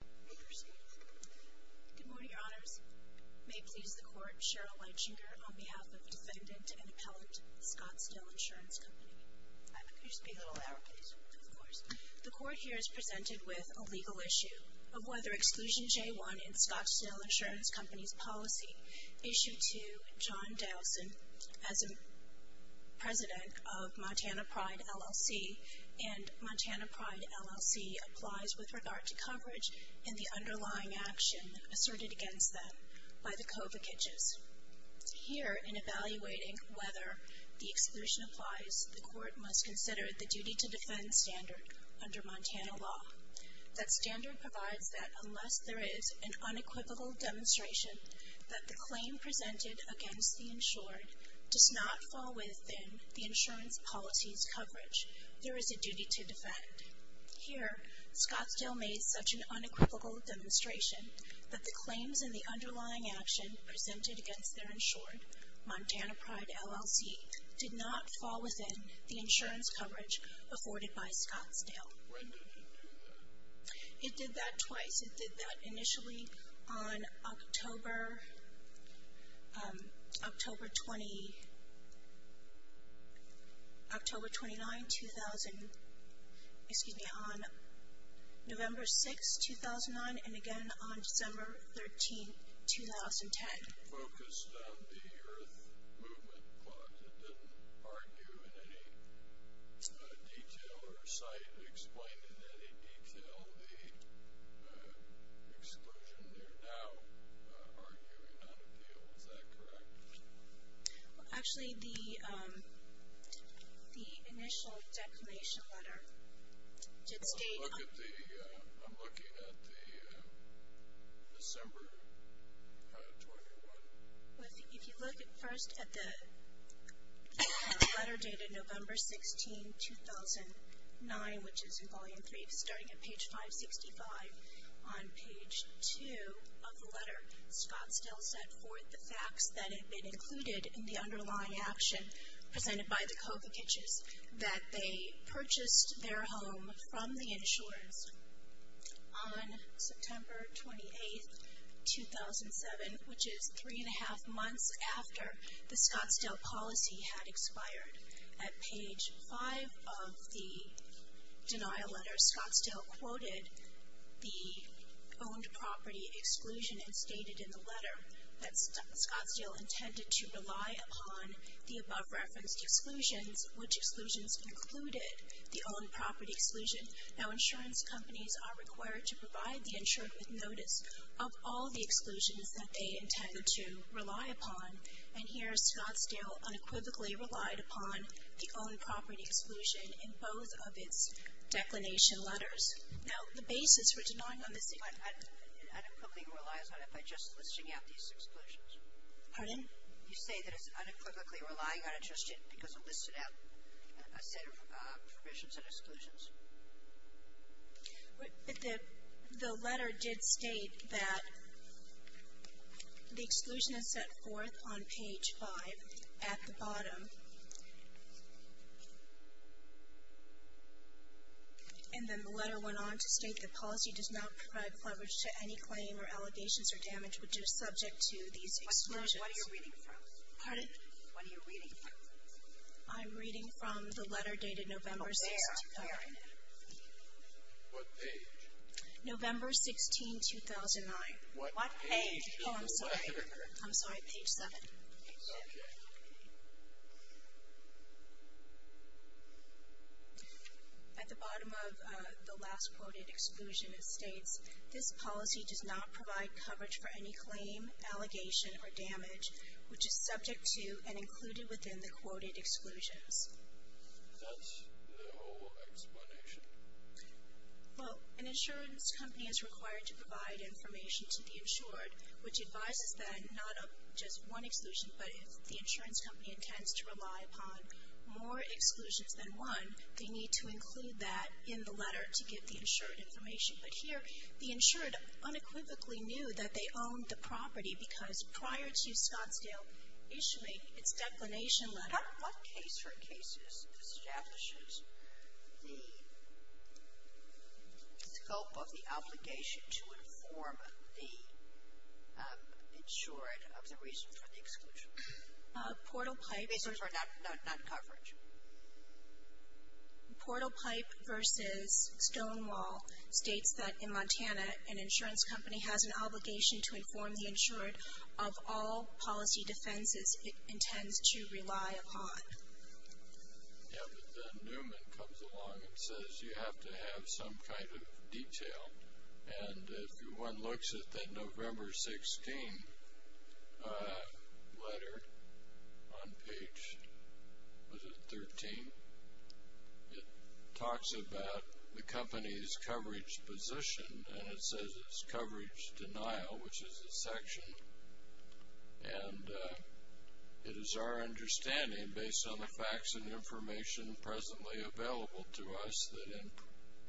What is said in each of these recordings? Good morning, Your Honors. May it please the Court, Cheryl Weitschinger on behalf of Defendant and Appellant Scottsdale Insurance Company. The Court here is presented with a legal issue of whether exclusion J-1 in Scottsdale Insurance Company's policy, Issue 2, John Dowson, as the underlying action asserted against them by the co-vocages. Here, in evaluating whether the exclusion applies, the Court must consider the duty to defend standard under Montana law. That standard provides that unless there is an unequivocal demonstration that the claim presented against the insured does not fall within the insurance policy's coverage, there is a duty to defend. Here, Scottsdale made such an unequivocal demonstration that the claims and the underlying action presented against their insured, Montana Pride, LLC, did not fall within the insurance coverage afforded by Scottsdale. It did that twice. It did that initially on October 29, 2012, and it did that again on October 30, 2012. It did that again on November 6, 2009, and again on December 13, 2010. It focused on the Earth Movement Clause. It didn't argue in any detail or cite or explain in any detail the exclusion. They're now arguing on a deal. Is that correct? Actually, the initial declination letter did state... I'm looking at the December 21. If you look first at the letter dated November 16, 2009, which is in Volume 3, starting at page 565 on page 2 of the letter, Scottsdale set forth the facts that had been included in the underlying action presented by the Kovacichs, that they purchased their home from the insurers on September 28, 2007, which is 3 1⁄2 months after the Scottsdale policy had expired. At page 5 of the denial letter, Scottsdale quoted the owned property exclusion and stated in the letter that Scottsdale intended to rely upon the above-referenced exclusions, which exclusions included the owned property exclusion. Now, insurance companies are required to provide the insured with notice of all the exclusions that they intend to rely upon, and here Scottsdale unequivocally relied upon the owned property exclusion in both of its declination letters. Now, the basis for denying on this... It unequivocally relies on it by just listing out these exclusions. Pardon? You say that it's unequivocally relying on it just because it listed out a set of provisions and exclusions. But the letter did state that the exclusion is set forth on page 5 at the bottom. And then the letter went on to state that policy does not provide coverage to any claim or allegations or damage which is subject to these exclusions. What are you reading from? Pardon? What are you reading from? I'm reading from the letter dated November 6, 2005. Sorry? What page? November 16, 2009. What page is the letter? Oh, I'm sorry. I'm sorry. Page 7. Okay. At the bottom of the last quoted exclusion, it states, this policy does not provide coverage for any claim, allegation, or damage which is subject to and included within the quoted exclusions. That's the whole explanation? Well, an insurance company is required to provide information to the insured which advises them not of just one exclusion, but if the insurance company intends to rely upon more exclusions than one, they need to include that in the letter to give the insured information. But here, the insured unequivocally knew that they owned the property because prior to Scottsdale issuing its declination letter not one case or cases establishes the scope of the obligation to inform the insured of the reason for the exclusion. Portal Pipe. Not coverage. Portal Pipe versus Stonewall states that in Montana, an insurance company has an obligation to inform the insured of all policy defenses it intends to rely upon. Yeah, but then Newman comes along and says you have to have some kind of detail. And if one looks at the November 16 letter on page, was it 13? It talks about the company's coverage position, and it says it's coverage denial, which is a section. And it is our understanding, based on the facts and information presently available to us, that the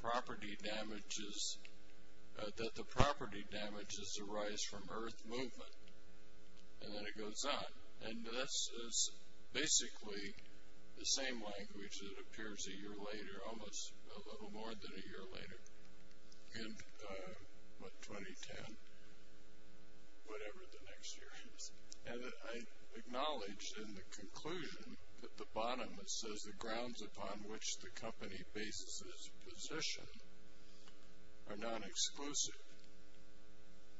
property damages arise from earth movement. And then it goes on. And this is basically the same language that appears a year later, or almost a little more than a year later, in 2010, whatever the next year is. And I acknowledge in the conclusion that the bottom, it says the grounds upon which the company bases its position are non-exclusive.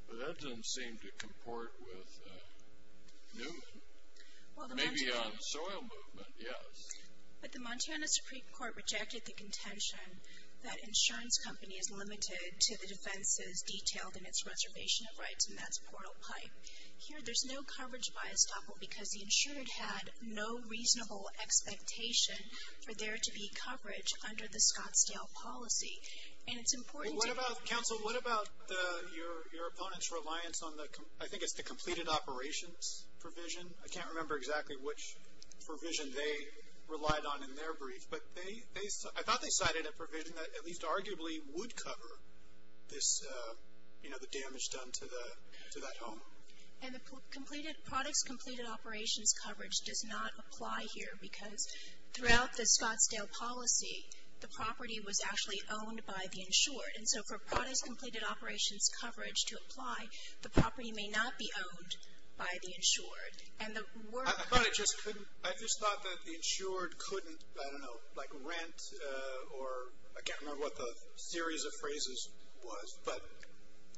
But that doesn't seem to comport with Newman. Maybe on soil movement, yes. But the Montana Supreme Court rejected the contention that an insurance company is limited to the defenses detailed in its reservation of rights, and that's portal pipe. Here there's no coverage by estoppel because the insured had no reasonable expectation for there to be coverage under the Scottsdale policy. And it's important to be clear. Well, what about, counsel, what about your opponent's reliance on the, I think it's the completed operations provision. I can't remember exactly which provision they relied on in their brief, but I thought they cited a provision that at least arguably would cover this, you know, the damage done to that home. And the products completed operations coverage does not apply here because throughout the Scottsdale policy, the property was actually owned by the insured. And so for products completed operations coverage to apply, the property may not be owned by the insured. I just thought that the insured couldn't, I don't know, like rent, or I can't remember what the series of phrases was, but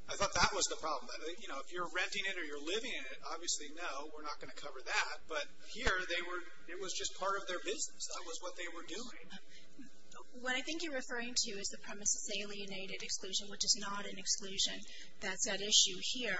I thought that was the problem. You know, if you're renting it or you're living in it, obviously no, we're not going to cover that. But here they were, it was just part of their business. That was what they were doing. What I think you're referring to is the premises alienated exclusion, which is not an exclusion. That's at issue here.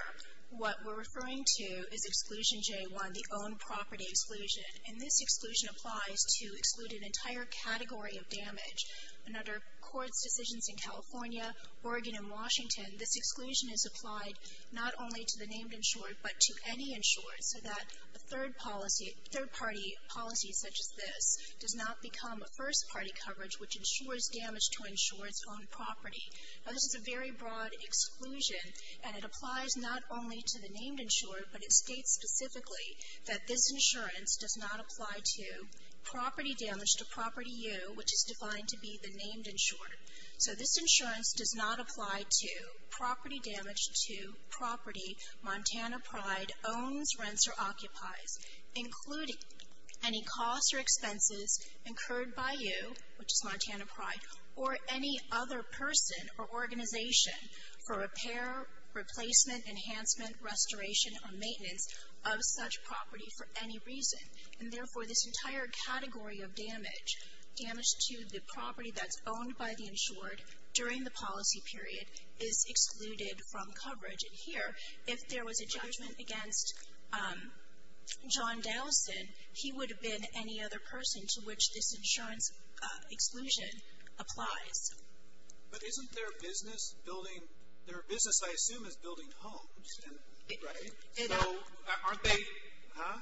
What we're referring to is Exclusion J1, the Own Property Exclusion, and this exclusion applies to exclude an entire category of damage. And under courts' decisions in California, Oregon, and Washington, this exclusion is applied not only to the named insured, but to any insured, so that a third policy, third-party policy such as this, does not become a first-party coverage which insures damage to an insured's own property. Now this is a very broad exclusion, and it applies not only to the named insured, but it states specifically that this insurance does not apply to property damage to Property U, which is defined to be the named insured. So this insurance does not apply to property damage to property Montana Pride owns, rents, or occupies, including any costs or expenses incurred by you, which is Montana Pride, or any other person or organization for repair, replacement, enhancement, restoration, or maintenance of such property for any reason. And therefore, this entire category of damage, damage to the property that's owned by the insured during the policy period, is excluded from coverage. And here, if there was a judgment against John Dowson, he would have been any other person to which this insurance exclusion applies. But isn't their business building, their business, I assume, is building homes, right? So aren't they, huh?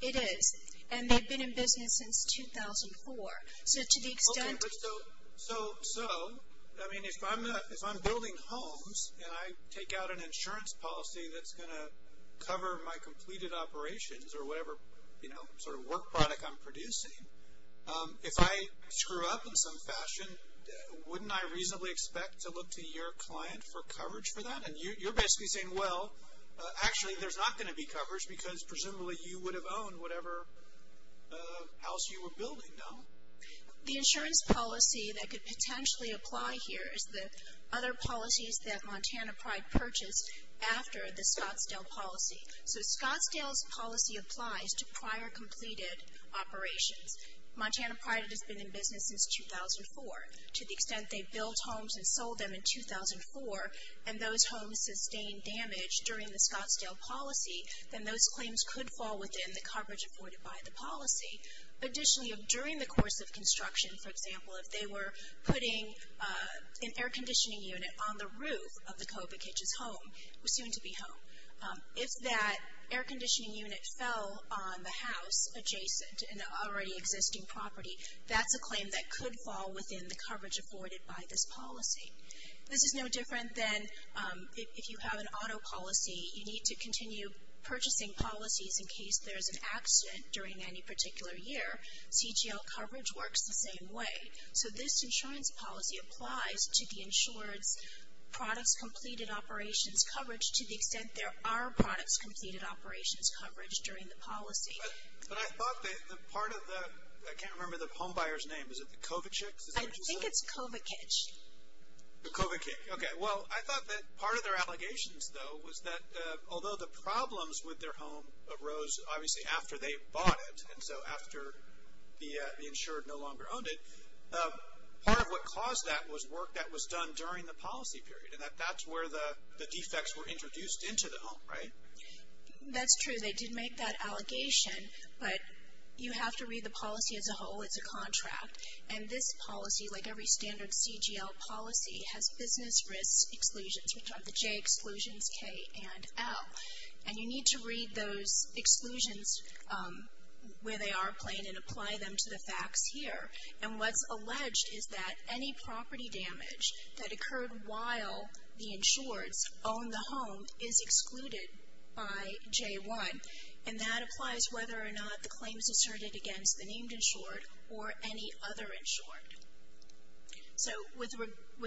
It is. And they've been in business since 2004. So to the extent. Okay, but so, I mean, if I'm building homes, and I take out an insurance policy that's going to cover my completed operations or whatever, you know, sort of work product I'm producing, if I screw up in some fashion, wouldn't I reasonably expect to look to your client for coverage for that? And you're basically saying, well, actually, there's not going to be coverage, because presumably you would have owned whatever house you were building, no? The insurance policy that could potentially apply here is the other policies that Montana Pride purchased after the Scottsdale policy. So Scottsdale's policy applies to prior completed operations. Montana Pride has been in business since 2004. To the extent they built homes and sold them in 2004, and those homes sustained damage during the Scottsdale policy, then those claims could fall within the coverage avoided by the policy. Additionally, during the course of construction, for example, if they were putting an air conditioning unit on the roof of the COVID kitchen's home, soon to be home, if that air conditioning unit fell on the house adjacent to an already existing property, that's a claim that could fall within the coverage avoided by this policy. This is no different than if you have an auto policy, you need to continue purchasing policies in case there's an accident during any particular year. CGL coverage works the same way. So this insurance policy applies to the insured's products completed operations coverage to the extent there are products completed operations coverage during the policy. But I thought that part of the – I can't remember the home buyer's name. Is it the COVIDchicks? I think it's COVIDkitch. The COVIDkitch. Okay. Well, I thought that part of their allegations, though, was that although the problems with their home arose obviously after they bought it, and so after the insured no longer owned it, part of what caused that was work that was done during the policy period, and that's where the defects were introduced into the home, right? That's true. They did make that allegation, but you have to read the policy as a whole. It's a contract. And this policy, like every standard CGL policy, has business risk exclusions, which are the J exclusions, K, and L. And you need to read those exclusions where they are plain and apply them to the facts here. And what's alleged is that any property damage that occurred while the insured's owned the home is excluded by J1, and that applies whether or not the claim is asserted against the named insured or any other insured. So with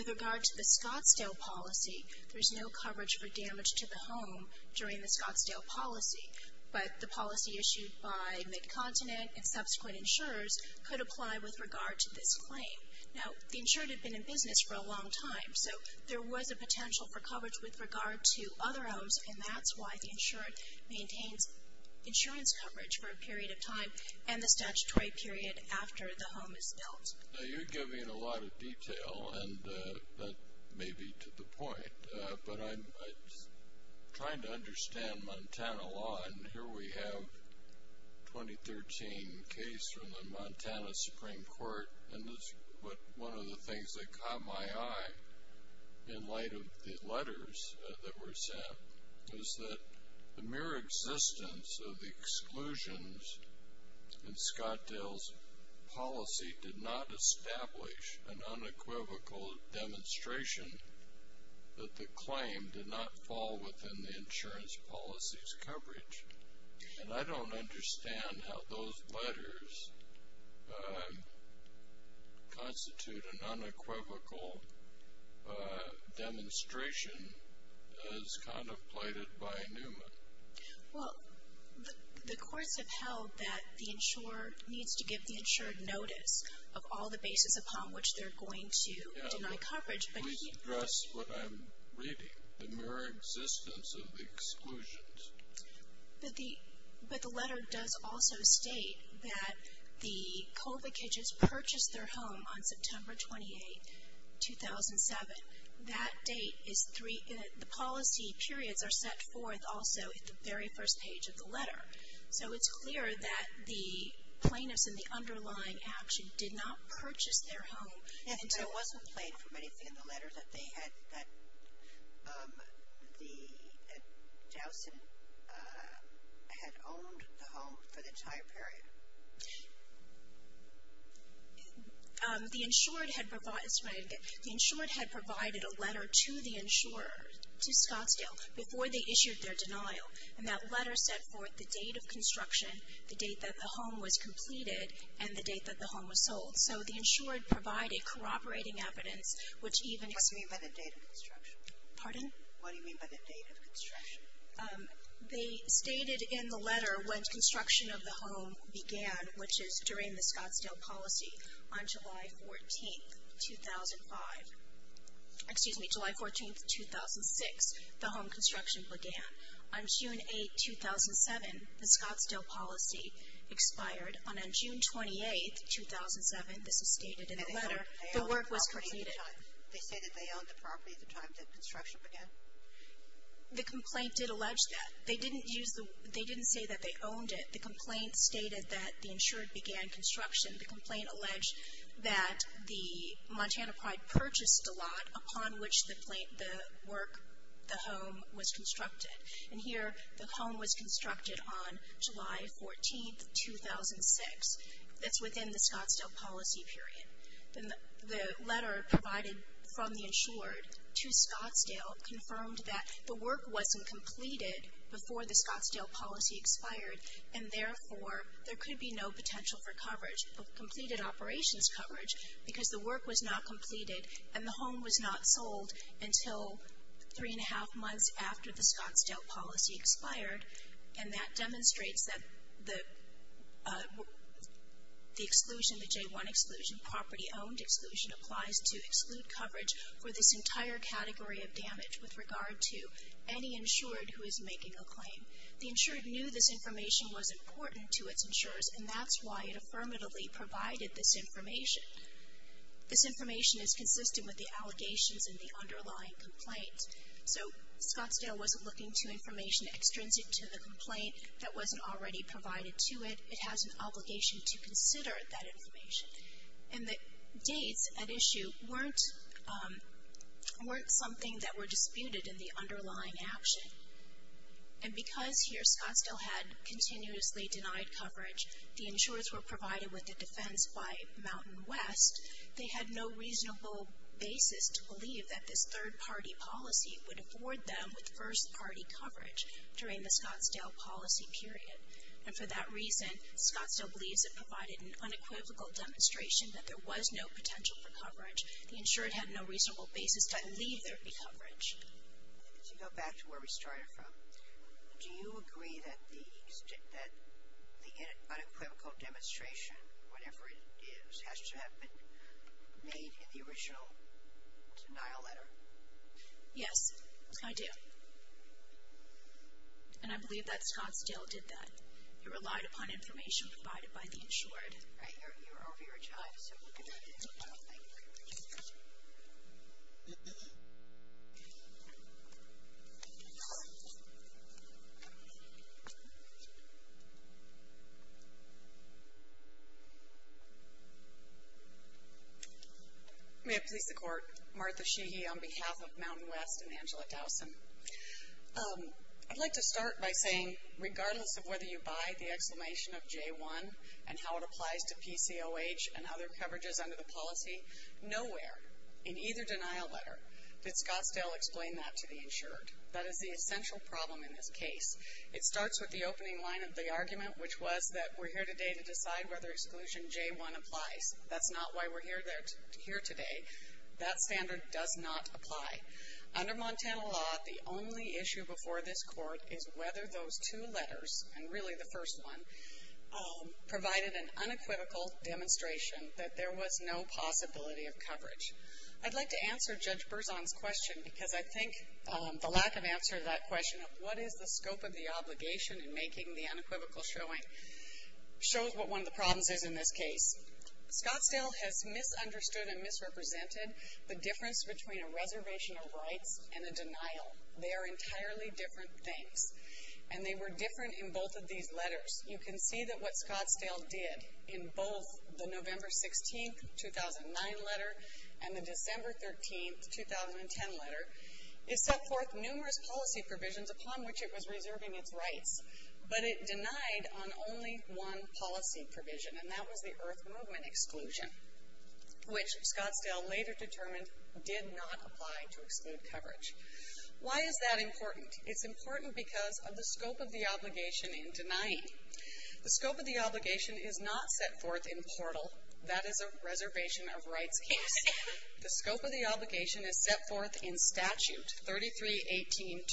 regard to the Scottsdale policy, there's no coverage for damage to the home during the Scottsdale policy, but the policy issued by Mid-Continent and subsequent insurers could apply with regard to this claim. Now, the insured had been in business for a long time, so there was a potential for coverage with regard to other homes, and that's why the insured maintains insurance coverage for a period of time and the statutory period after the home is built. Now, you give me a lot of detail, and that may be to the point, but I'm trying to understand Montana law, and here we have a 2013 case from the Montana Supreme Court, and one of the things that caught my eye in light of the letters that were sent was that the mere existence of the exclusions in Scottsdale's policy did not establish an unequivocal demonstration that the claim did not fall within the insurance policy's coverage. And I don't understand how those letters constitute an unequivocal demonstration as contemplated by Newman. Well, the courts have held that the insurer needs to give the insured notice of all the bases upon which they're going to deny coverage. Yeah, please address what I'm reading, the mere existence of the exclusions. But the letter does also state that the co-vacations purchased their home on September 28, 2007. And that date is three, the policy periods are set forth also in the very first page of the letter. So it's clear that the plaintiffs in the underlying action did not purchase their home. Yeah, but it wasn't played from anything in the letter that they had, that Dowson had owned the home for the entire period. The insured had provided a letter to the insurer, to Scottsdale, before they issued their denial. And that letter set forth the date of construction, the date that the home was completed, and the date that the home was sold. So the insured provided corroborating evidence, which even... What do you mean by the date of construction? Pardon? What do you mean by the date of construction? They stated in the letter when construction of the home began, which is during the Scottsdale policy, on July 14, 2005. Excuse me, July 14, 2006, the home construction began. On June 8, 2007, the Scottsdale policy expired. And on June 28, 2007, this is stated in the letter, the work was completed. They say that they owned the property at the time that construction began? The complaint did allege that. They didn't say that they owned it. The complaint stated that the insured began construction. The complaint alleged that the Montana Pride purchased the lot upon which the work, the home, was constructed. And here the home was constructed on July 14, 2006. That's within the Scottsdale policy period. The letter provided from the insured to Scottsdale confirmed that the work wasn't completed before the Scottsdale policy expired, and therefore there could be no potential for coverage, completed operations coverage, because the work was not completed and the home was not sold until three and a half months after the Scottsdale policy expired. And that demonstrates that the exclusion, the J1 exclusion, property owned exclusion, applies to exclude coverage for this entire category of damage with regard to any insured who is making a claim. The insured knew this information was important to its insurers, and that's why it affirmatively provided this information. This information is consistent with the allegations in the underlying complaint. So Scottsdale wasn't looking to information extrinsic to the complaint that wasn't already provided to it. It has an obligation to consider that information. And the dates at issue weren't something that were disputed in the underlying action. And because here Scottsdale had continuously denied coverage, the insurers were provided with a defense by Mountain West, they had no reasonable basis to believe that this third-party policy would afford them with first-party coverage during the Scottsdale policy period. And for that reason, Scottsdale believes it provided an unequivocal demonstration that there was no potential for coverage. The insured had no reasonable basis to leave their coverage. To go back to where we started from, do you agree that the unequivocal demonstration, whatever it is, has to have been made in the original denial letter? Yes, I do. And I believe that Scottsdale did that. It relied upon information provided by the insured. All right. You're over your time, so we'll get on with it. Thank you very much. May it please the Court. Martha Sheehy on behalf of Mountain West and Angela Towson. I'd like to start by saying regardless of whether you buy the exclamation of J1 and how it applies to PCOH and other coverages under the policy, nowhere in either denial letter did Scottsdale explain that to the insured. That is the essential problem in this case. It starts with the opening line of the argument, which was that we're here today to decide whether exclusion J1 applies. That's not why we're here today. That standard does not apply. Under Montana law, the only issue before this Court is whether those two letters, and really the first one, provided an unequivocal demonstration that there was no possibility of coverage. I'd like to answer Judge Berzon's question because I think the lack of answer to that question of what is the scope of the obligation in making the unequivocal showing shows what one of the problems is in this case. Scottsdale has misunderstood and misrepresented the difference between a reservation of rights and a denial. They are entirely different things. And they were different in both of these letters. You can see that what Scottsdale did in both the November 16, 2009 letter and the December 13, 2010 letter, is set forth numerous policy provisions upon which it was reserving its rights, but it denied on only one policy provision, and that was the Earth Movement exclusion, which Scottsdale later determined did not apply to exclude coverage. Why is that important? It's important because of the scope of the obligation in denying. The scope of the obligation is not set forth in Portal. That is a reservation of rights case. The scope of the obligation is set forth in Statute 3318.201.14.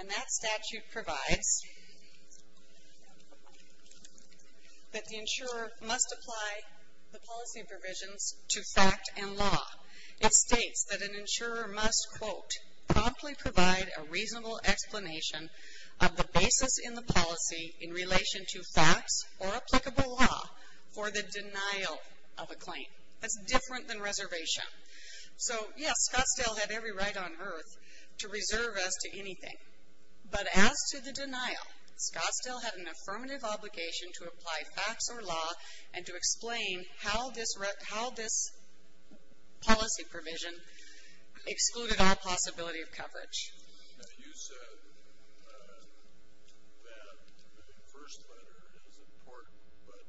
And that statute provides that the insurer must apply the policy provisions to fact and law. It states that an insurer must, quote, promptly provide a reasonable explanation of the basis in the policy in relation to facts or applicable law for the denial of a claim. That's different than reservation. So, yes, Scottsdale had every right on Earth to reserve as to anything. But as to the denial, Scottsdale had an affirmative obligation to apply facts or law and to explain how this policy provision excluded all possibility of coverage. You said that the first letter is important, but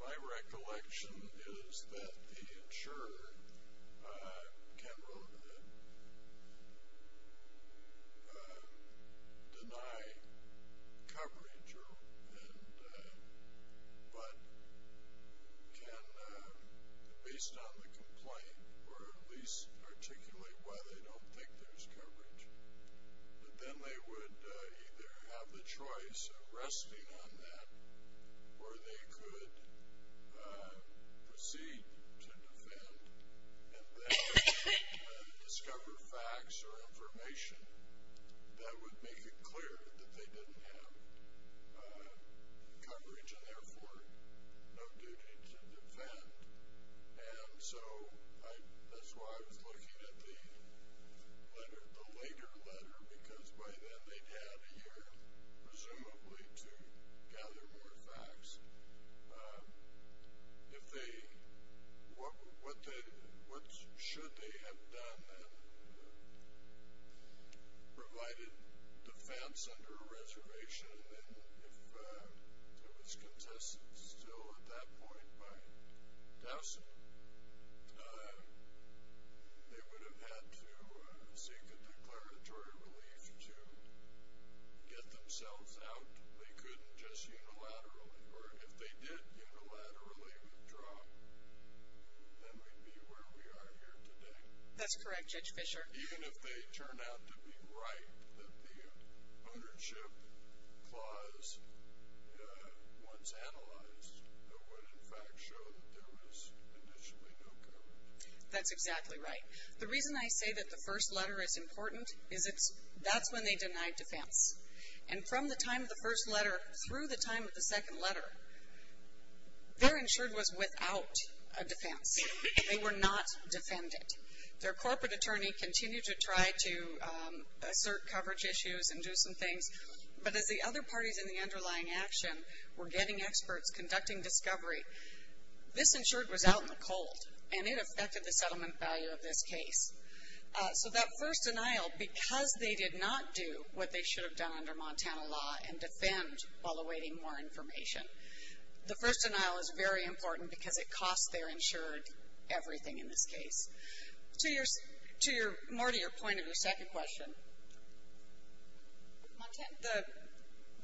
my recollection is that the insurer can deny coverage but can, based on the complaint, or at least articulate why they don't think there's coverage. But then they would either have the choice of resting on that or they could proceed to defend and then discover facts or information that would make it clear that they didn't have coverage and therefore no duty to defend. And so that's why I was looking at the later letter because by then they'd have a year, presumably, to gather more facts. What should they have done then? Provided defense under a reservation, and if it was contested still at that point by Dowson, they would have had to seek a declaratory relief to get themselves out. They couldn't just unilaterally, or if they did unilaterally withdraw, then we'd be where we are here today. That's correct, Judge Fischer. Even if they turn out to be right that the ownership clause once analyzed would in fact show that there was initially no coverage. That's exactly right. The reason I say that the first letter is important is that's when they denied defense. And from the time of the first letter through the time of the second letter, their insured was without a defense. They were not defended. Their corporate attorney continued to try to assert coverage issues and do some things, but as the other parties in the underlying action were getting experts, conducting discovery, this insured was out in the cold, and it affected the settlement value of this case. So that first denial, because they did not do what they should have done under Montana law and defend while awaiting more information, the first denial is very important because it costs their insured everything in this case. More to your point of your second question,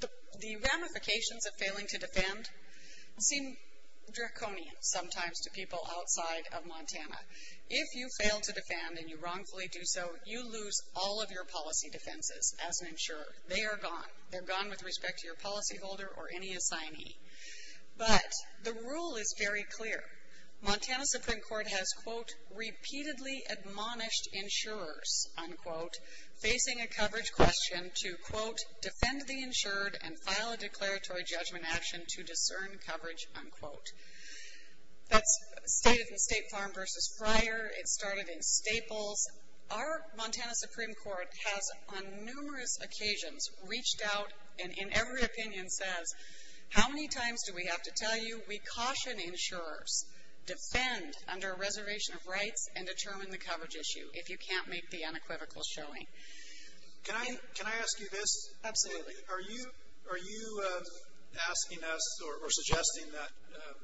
the ramifications of failing to defend seem draconian sometimes to people outside of Montana. If you fail to defend and you wrongfully do so, you lose all of your policy defenses as an insurer. They are gone. They're gone with respect to your policyholder or any assignee. But the rule is very clear. Montana Supreme Court has, quote, repeatedly admonished insurers, unquote, facing a coverage question to, quote, defend the insured and file a declaratory judgment action to discern coverage, unquote. That's stated in State Farm versus Friar. It started in Staples. Our Montana Supreme Court has on numerous occasions reached out and in every opinion says, how many times do we have to tell you we caution insurers, defend under a reservation of rights and determine the coverage issue if you can't make the unequivocal showing? Can I ask you this? Absolutely. Are you asking us or suggesting that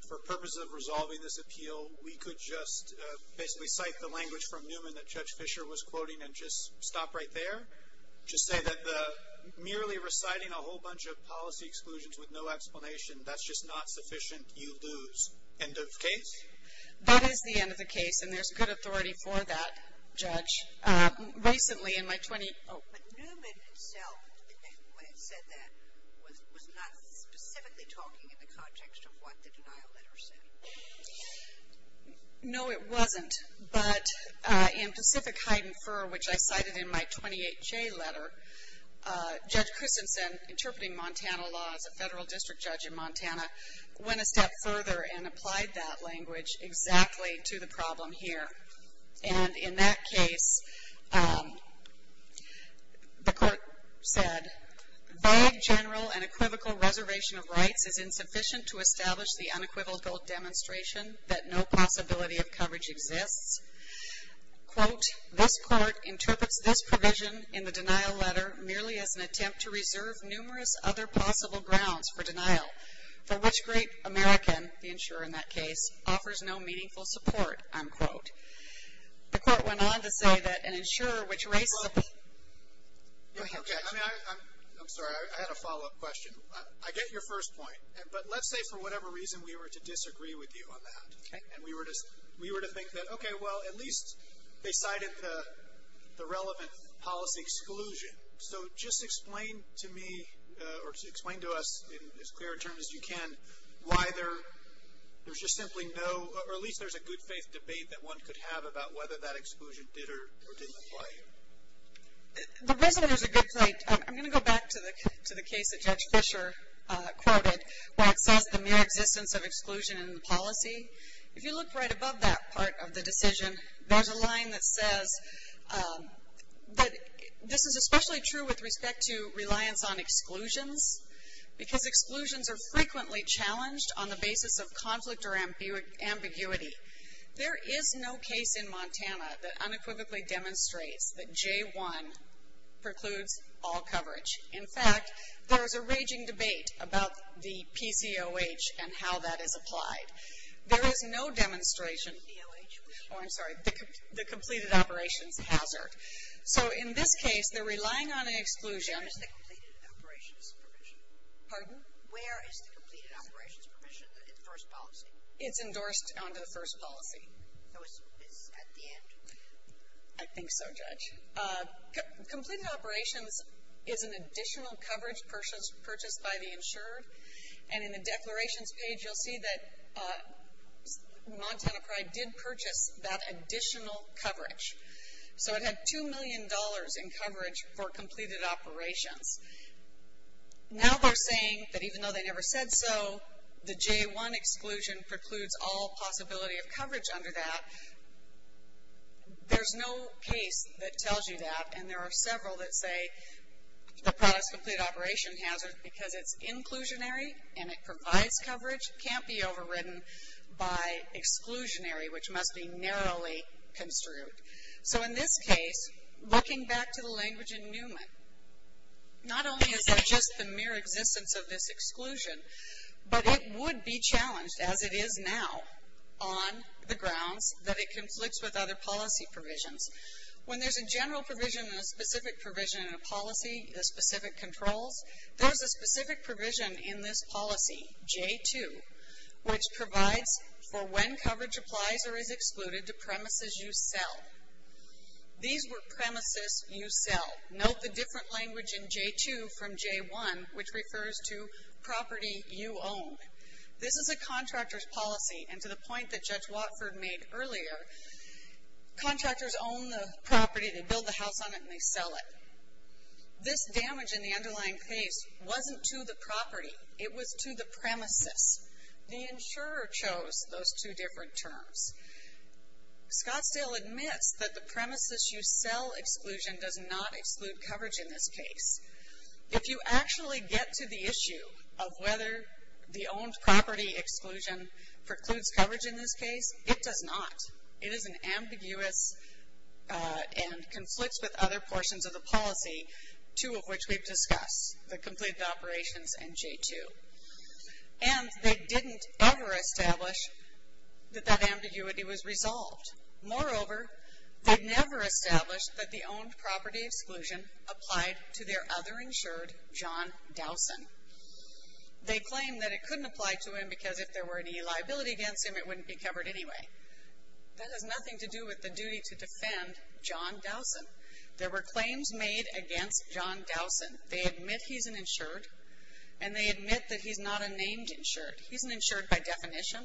for purposes of resolving this appeal, we could just basically cite the language from Newman that Judge Fisher was quoting and just stop right there? Just say that merely reciting a whole bunch of policy exclusions with no explanation, that's just not sufficient. You lose. End of case? That is the end of the case, and there's good authority for that, Judge. But Newman himself, when he said that, was not specifically talking in the context of what the denial letter said. No, it wasn't. But in Pacific Hide and Fur, which I cited in my 28J letter, Judge Christensen, interpreting Montana law as a federal district judge in Montana, went a step further and applied that language exactly to the problem here. And in that case, the court said, vague general and equivocal reservation of rights is insufficient to establish the unequivocal demonstration that no possibility of coverage exists. Quote, this court interprets this provision in the denial letter merely as an attempt to reserve numerous other possible grounds for denial, for which great American, the insurer in that case, offers no meaningful support, unquote. The court went on to say that an insurer which raises a Go ahead, Judge. I'm sorry. I had a follow-up question. I get your first point, but let's say for whatever reason we were to disagree with you on that. Okay. And we were to think that, okay, well, at least they cited the relevant policy exclusion. So just explain to me or explain to us in as clear a term as you can why there's just simply no or at least there's a good faith debate that one could have about whether that exclusion did or didn't apply here. The reason there's a good faith, I'm going to go back to the case that Judge Fisher quoted where it says the mere existence of exclusion in the policy. If you look right above that part of the decision, there's a line that says that this is especially true with respect to reliance on exclusions because exclusions are frequently challenged on the basis of conflict or ambiguity. There is no case in Montana that unequivocally demonstrates that J-1 precludes all coverage. In fact, there is a raging debate about the PCOH and how that is applied. There is no demonstration. Oh, I'm sorry, the completed operations hazard. So in this case, they're relying on an exclusion. Where is the completed operations permission? Pardon? Where is the completed operations permission in the first policy? It's endorsed under the first policy. So it's at the end? I think so, Judge. Completed operations is an additional coverage purchased by the insured. And in the declarations page, you'll see that Montana Pride did purchase that additional coverage. So it had $2 million in coverage for completed operations. Now they're saying that even though they never said so, the J-1 exclusion precludes all possibility of coverage under that. There's no case that tells you that. And there are several that say the product's completed operation hazard because it's inclusionary and it provides coverage can't be overridden by exclusionary, which must be narrowly construed. So in this case, looking back to the language in Newman, not only is that just the mere existence of this exclusion, but it would be challenged as it is now on the grounds that it conflicts with other policy provisions. When there's a general provision and a specific provision in a policy, the specific controls, there's a specific provision in this policy, J-2, which provides for when coverage applies or is excluded to premises you sell. These were premises you sell. Note the different language in J-2 from J-1, which refers to property you own. This is a contractor's policy, and to the point that Judge Watford made earlier, contractors own the property, they build the house on it, and they sell it. This damage in the underlying case wasn't to the property. It was to the premises. The insurer chose those two different terms. Scottsdale admits that the premises you sell exclusion does not exclude coverage in this case. If you actually get to the issue of whether the owned property exclusion precludes coverage in this case, it does not. It is an ambiguous and conflicts with other portions of the policy, two of which we've discussed, the completed operations and J-2. And they didn't ever establish that that ambiguity was resolved. Moreover, they never established that the owned property exclusion applied to their other insured, John Dowson. They claim that it couldn't apply to him because if there were any liability against him, it wouldn't be covered anyway. That has nothing to do with the duty to defend John Dowson. There were claims made against John Dowson. They admit he's an insured, and they admit that he's not a named insured. He's an insured by definition.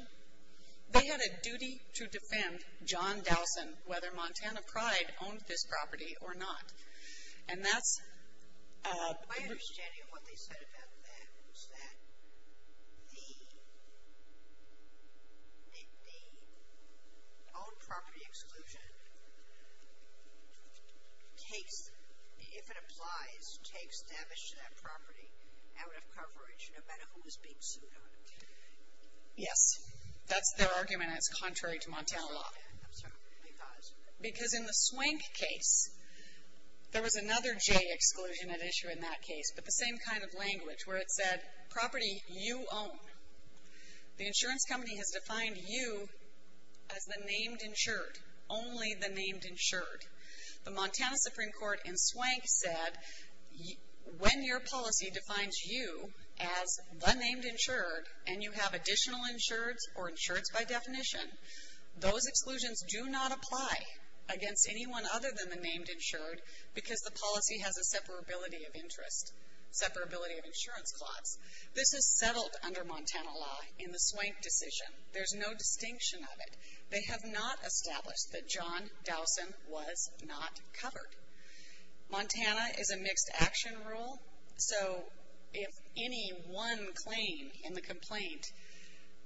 They had a duty to defend John Dowson, whether Montana Pride owned this property or not. And that's... My understanding of what they said about that was that the owned property exclusion takes, if it applies, takes damage to that property out of coverage, no matter who is being sued on it. Yes. That's their argument, and it's contrary to Montana law. I'm sorry, because? Because in the Swank case, there was another J exclusion at issue in that case, but the same kind of language where it said property you own. The insurance company has defined you as the named insured, only the named insured. The Montana Supreme Court in Swank said when your policy defines you as the named insured and you have additional insureds or insureds by definition, those exclusions do not apply against anyone other than the named insured, because the policy has a separability of interest, separability of insurance clause. This is settled under Montana law in the Swank decision. There's no distinction of it. They have not established that John Dowson was not covered. Montana is a mixed action rule. So if any one claim in the complaint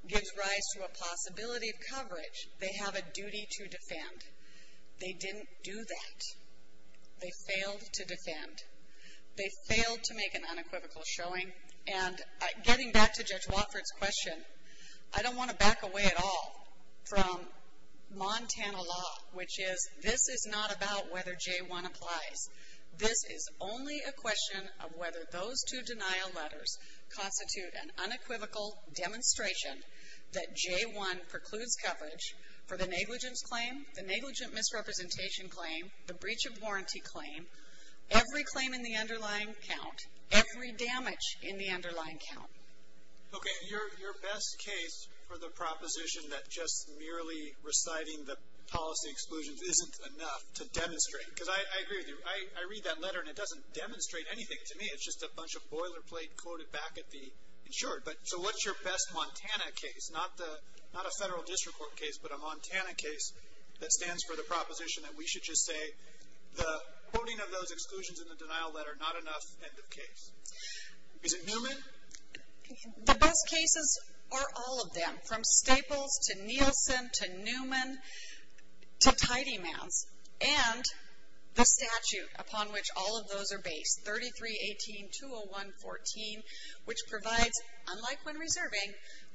gives rise to a possibility of coverage, they have a duty to defend. They didn't do that. They failed to defend. They failed to make an unequivocal showing. And getting back to Judge Wofford's question, I don't want to back away at all from Montana law, which is this is not about whether J1 applies. This is only a question of whether those two denial letters constitute an unequivocal demonstration that J1 precludes coverage for the negligence claim, the negligent misrepresentation claim, the breach of warranty claim, every claim in the underlying count, every damage in the underlying count. Okay. Your best case for the proposition that just merely reciting the policy exclusions isn't enough to demonstrate, because I agree with you. I read that letter and it doesn't demonstrate anything to me. It's just a bunch of boilerplate quoted back at the insured. So what's your best Montana case? Not a federal district court case, but a Montana case that stands for the proposition that we should just say the quoting of those exclusions in the denial letter, not enough, end of case. Is it Newman? The best cases are all of them, from Staples to Nielsen to Newman to Tidy Mans and the statute upon which all of those are based, 33-18-201-14, which provides, unlike when reserving,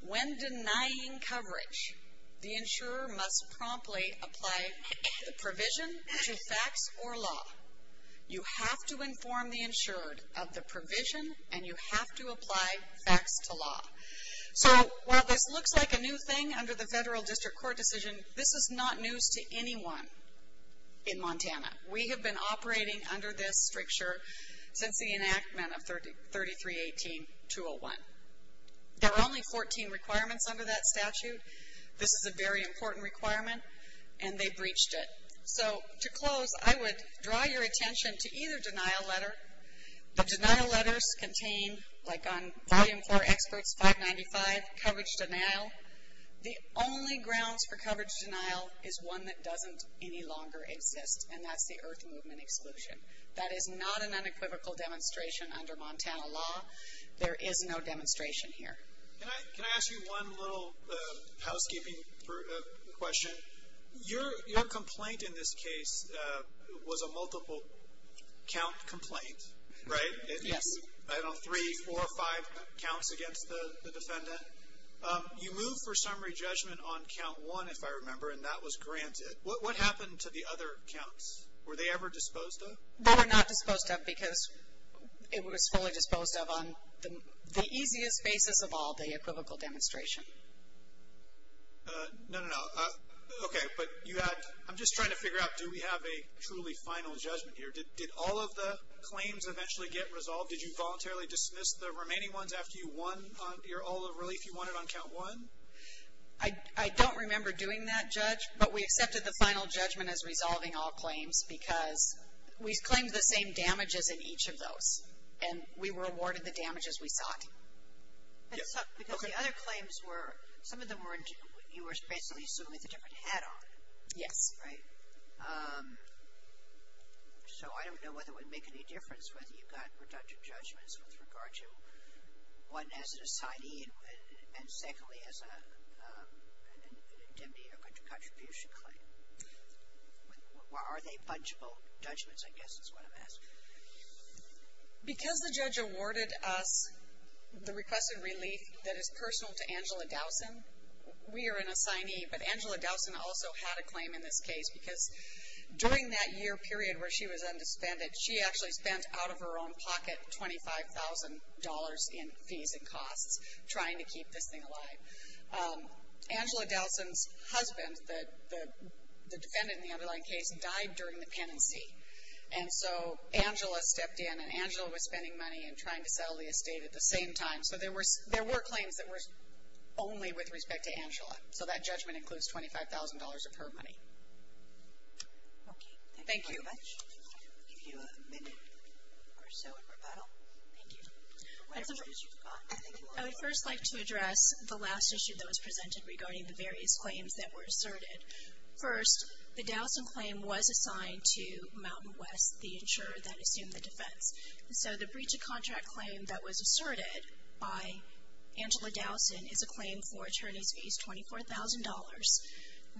when denying coverage, the insurer must promptly apply the provision to facts or law. You have to inform the insured of the provision and you have to apply facts to law. So while this looks like a new thing under the federal district court decision, this is not news to anyone in Montana. We have been operating under this stricture since the enactment of 33-18-201. There are only 14 requirements under that statute. This is a very important requirement and they breached it. So to close, I would draw your attention to either denial letter. The denial letters contain, like on Volume 4, Experts 595, coverage denial. The only grounds for coverage denial is one that doesn't any longer exist, and that's the Earth Movement exclusion. That is not an unequivocal demonstration under Montana law. There is no demonstration here. Can I ask you one little housekeeping question? Your complaint in this case was a multiple count complaint, right? Yes. I don't know, three, four, five counts against the defendant. You moved for summary judgment on count one, if I remember, and that was granted. What happened to the other counts? Were they ever disposed of? They were not disposed of because it was fully disposed of on the easiest basis of all the equivocal demonstration. No, no, no. Okay, but you had, I'm just trying to figure out, do we have a truly final judgment here? Did all of the claims eventually get resolved? Did you voluntarily dismiss the remaining ones after you won all the relief you wanted on count one? I don't remember doing that, Judge, but we accepted the final judgment as resolving all claims because we claimed the same damages in each of those and we were awarded the damages we sought. It sucked because the other claims were, some of them were, you were basically sued with a different hat on. Yes. Right? So I don't know whether it would make any difference whether you got redundant judgments with regard to one as an asidee and secondly as an indemnity or contribution claim. Are they punishable judgments, I guess is what I'm asking. Because the judge awarded us the requested relief that is personal to Angela Dowson, we are an assignee, but Angela Dowson also had a claim in this case because during that year period where she was undisbanded, she actually spent out of her own pocket $25,000 in fees and costs trying to keep this thing alive. Angela Dowson's husband, the defendant in the underlying case, died during the penancy and so Angela stepped in and Angela was spending money and trying to sell the estate at the same time. So there were claims that were only with respect to Angela. So that judgment includes $25,000 of her money. Okay. Thank you. I'll give you a minute or so in rebuttal. Thank you. I would first like to address the last issue that was presented regarding the various claims that were asserted. First, the Dowson claim was assigned to Mountain West, the insurer that assumed the defense. And so the breach of contract claim that was asserted by Angela Dowson is a claim for attorney's fees, $24,000,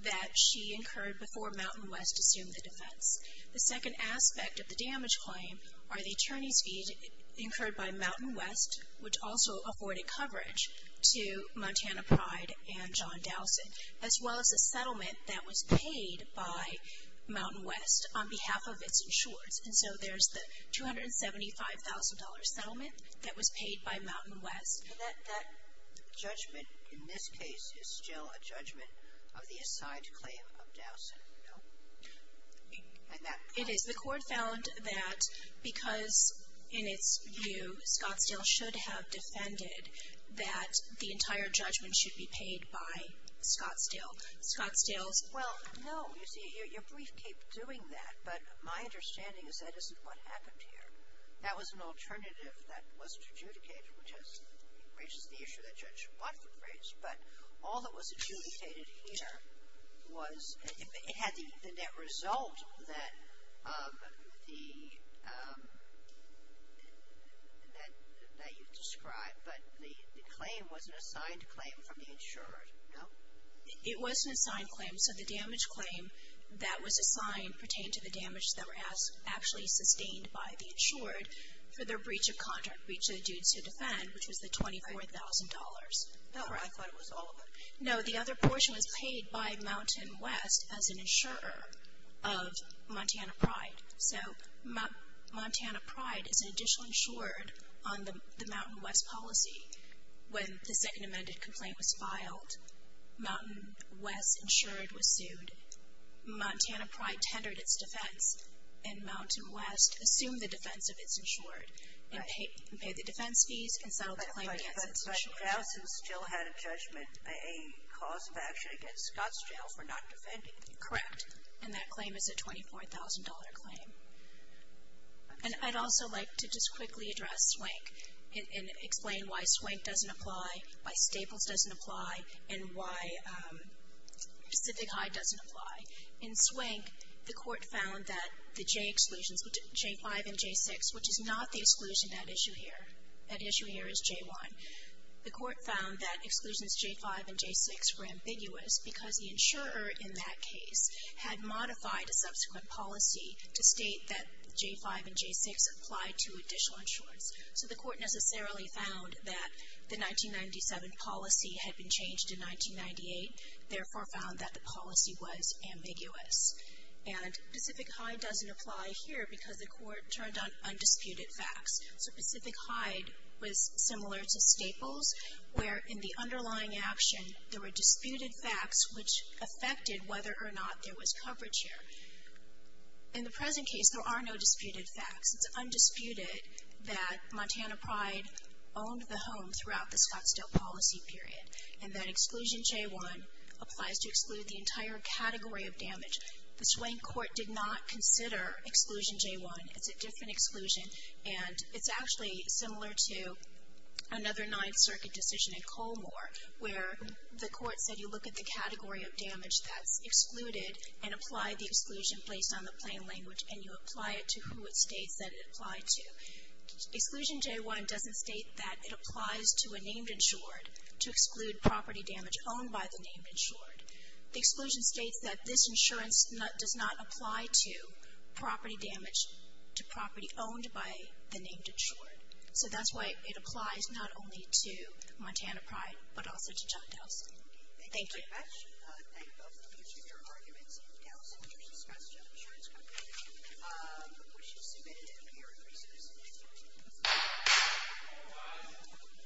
that she incurred before Mountain West assumed the defense. The second aspect of the damage claim are the attorney's fees incurred by Mountain West, which also afforded coverage to Montana Pride and John Dowson, as well as a settlement that was paid by Mountain West on behalf of its insurers. And so there's the $275,000 settlement that was paid by Mountain West. That judgment in this case is still a judgment of the assigned claim of Dowson, no? It is. The court found that because in its view Scottsdale should have defended that the entire judgment should be paid by Scottsdale. Scottsdale's. Well, no. You see, your brief kept doing that. But my understanding is that isn't what happened here. That was an alternative that wasn't adjudicated, which raises the issue that Judge Watford raised. But all that was adjudicated here was it had the net result that the, that you've described. But the claim was an assigned claim from the insured, no? It was an assigned claim. So the damage claim that was assigned pertained to the damage that were actually sustained by the insured for their breach of contract, breach of the duty to defend, which was the $24,000. I thought it was all of it. No, the other portion was paid by Mountain West as an insurer of Montana Pride. So Montana Pride is an additional insured on the Mountain West policy when the second amended complaint was filed. Mountain West insured was sued. Montana Pride tendered its defense, and Mountain West assumed the defense of its insured and paid the defense fees and settled the claim against its insured. But Gowson still had a judgment, a cause of action against Scottsdale for not defending it. Correct. And that claim is a $24,000 claim. And I'd also like to just quickly address Swank and explain why Swank doesn't apply, why Staples doesn't apply, and why Pacific High doesn't apply. In Swank, the court found that the J exclusions, J5 and J6, which is not the exclusion at issue here, at issue here is J1. The court found that exclusions J5 and J6 were ambiguous because the insurer in that case had modified a subsequent policy to state that J5 and J6 applied to additional insurance. So the court necessarily found that the 1997 policy had been changed in 1998, therefore found that the policy was ambiguous. And Pacific High doesn't apply here because the court turned on undisputed facts. So Pacific High was similar to Staples, where in the underlying action there were disputed facts which affected whether or not there was coverage here. In the present case, there are no disputed facts. It's undisputed that Montana Pride owned the home throughout the Scottsdale policy period and that exclusion J1 applies to exclude the entire category of damage. The Swank court did not consider exclusion J1. It's a different exclusion, and it's actually similar to another Ninth Circuit decision in Colmore, where the court said you look at the category of damage that's excluded and apply the exclusion based on the plain language, and you apply it to who it states that it applied to. Exclusion J1 doesn't state that it applies to a named insured to exclude property damage owned by the named insured. The exclusion states that this insurance does not apply to property damage to property owned by the named insured. So that's why it applies not only to Montana Pride but also to John Dallas. Thank you.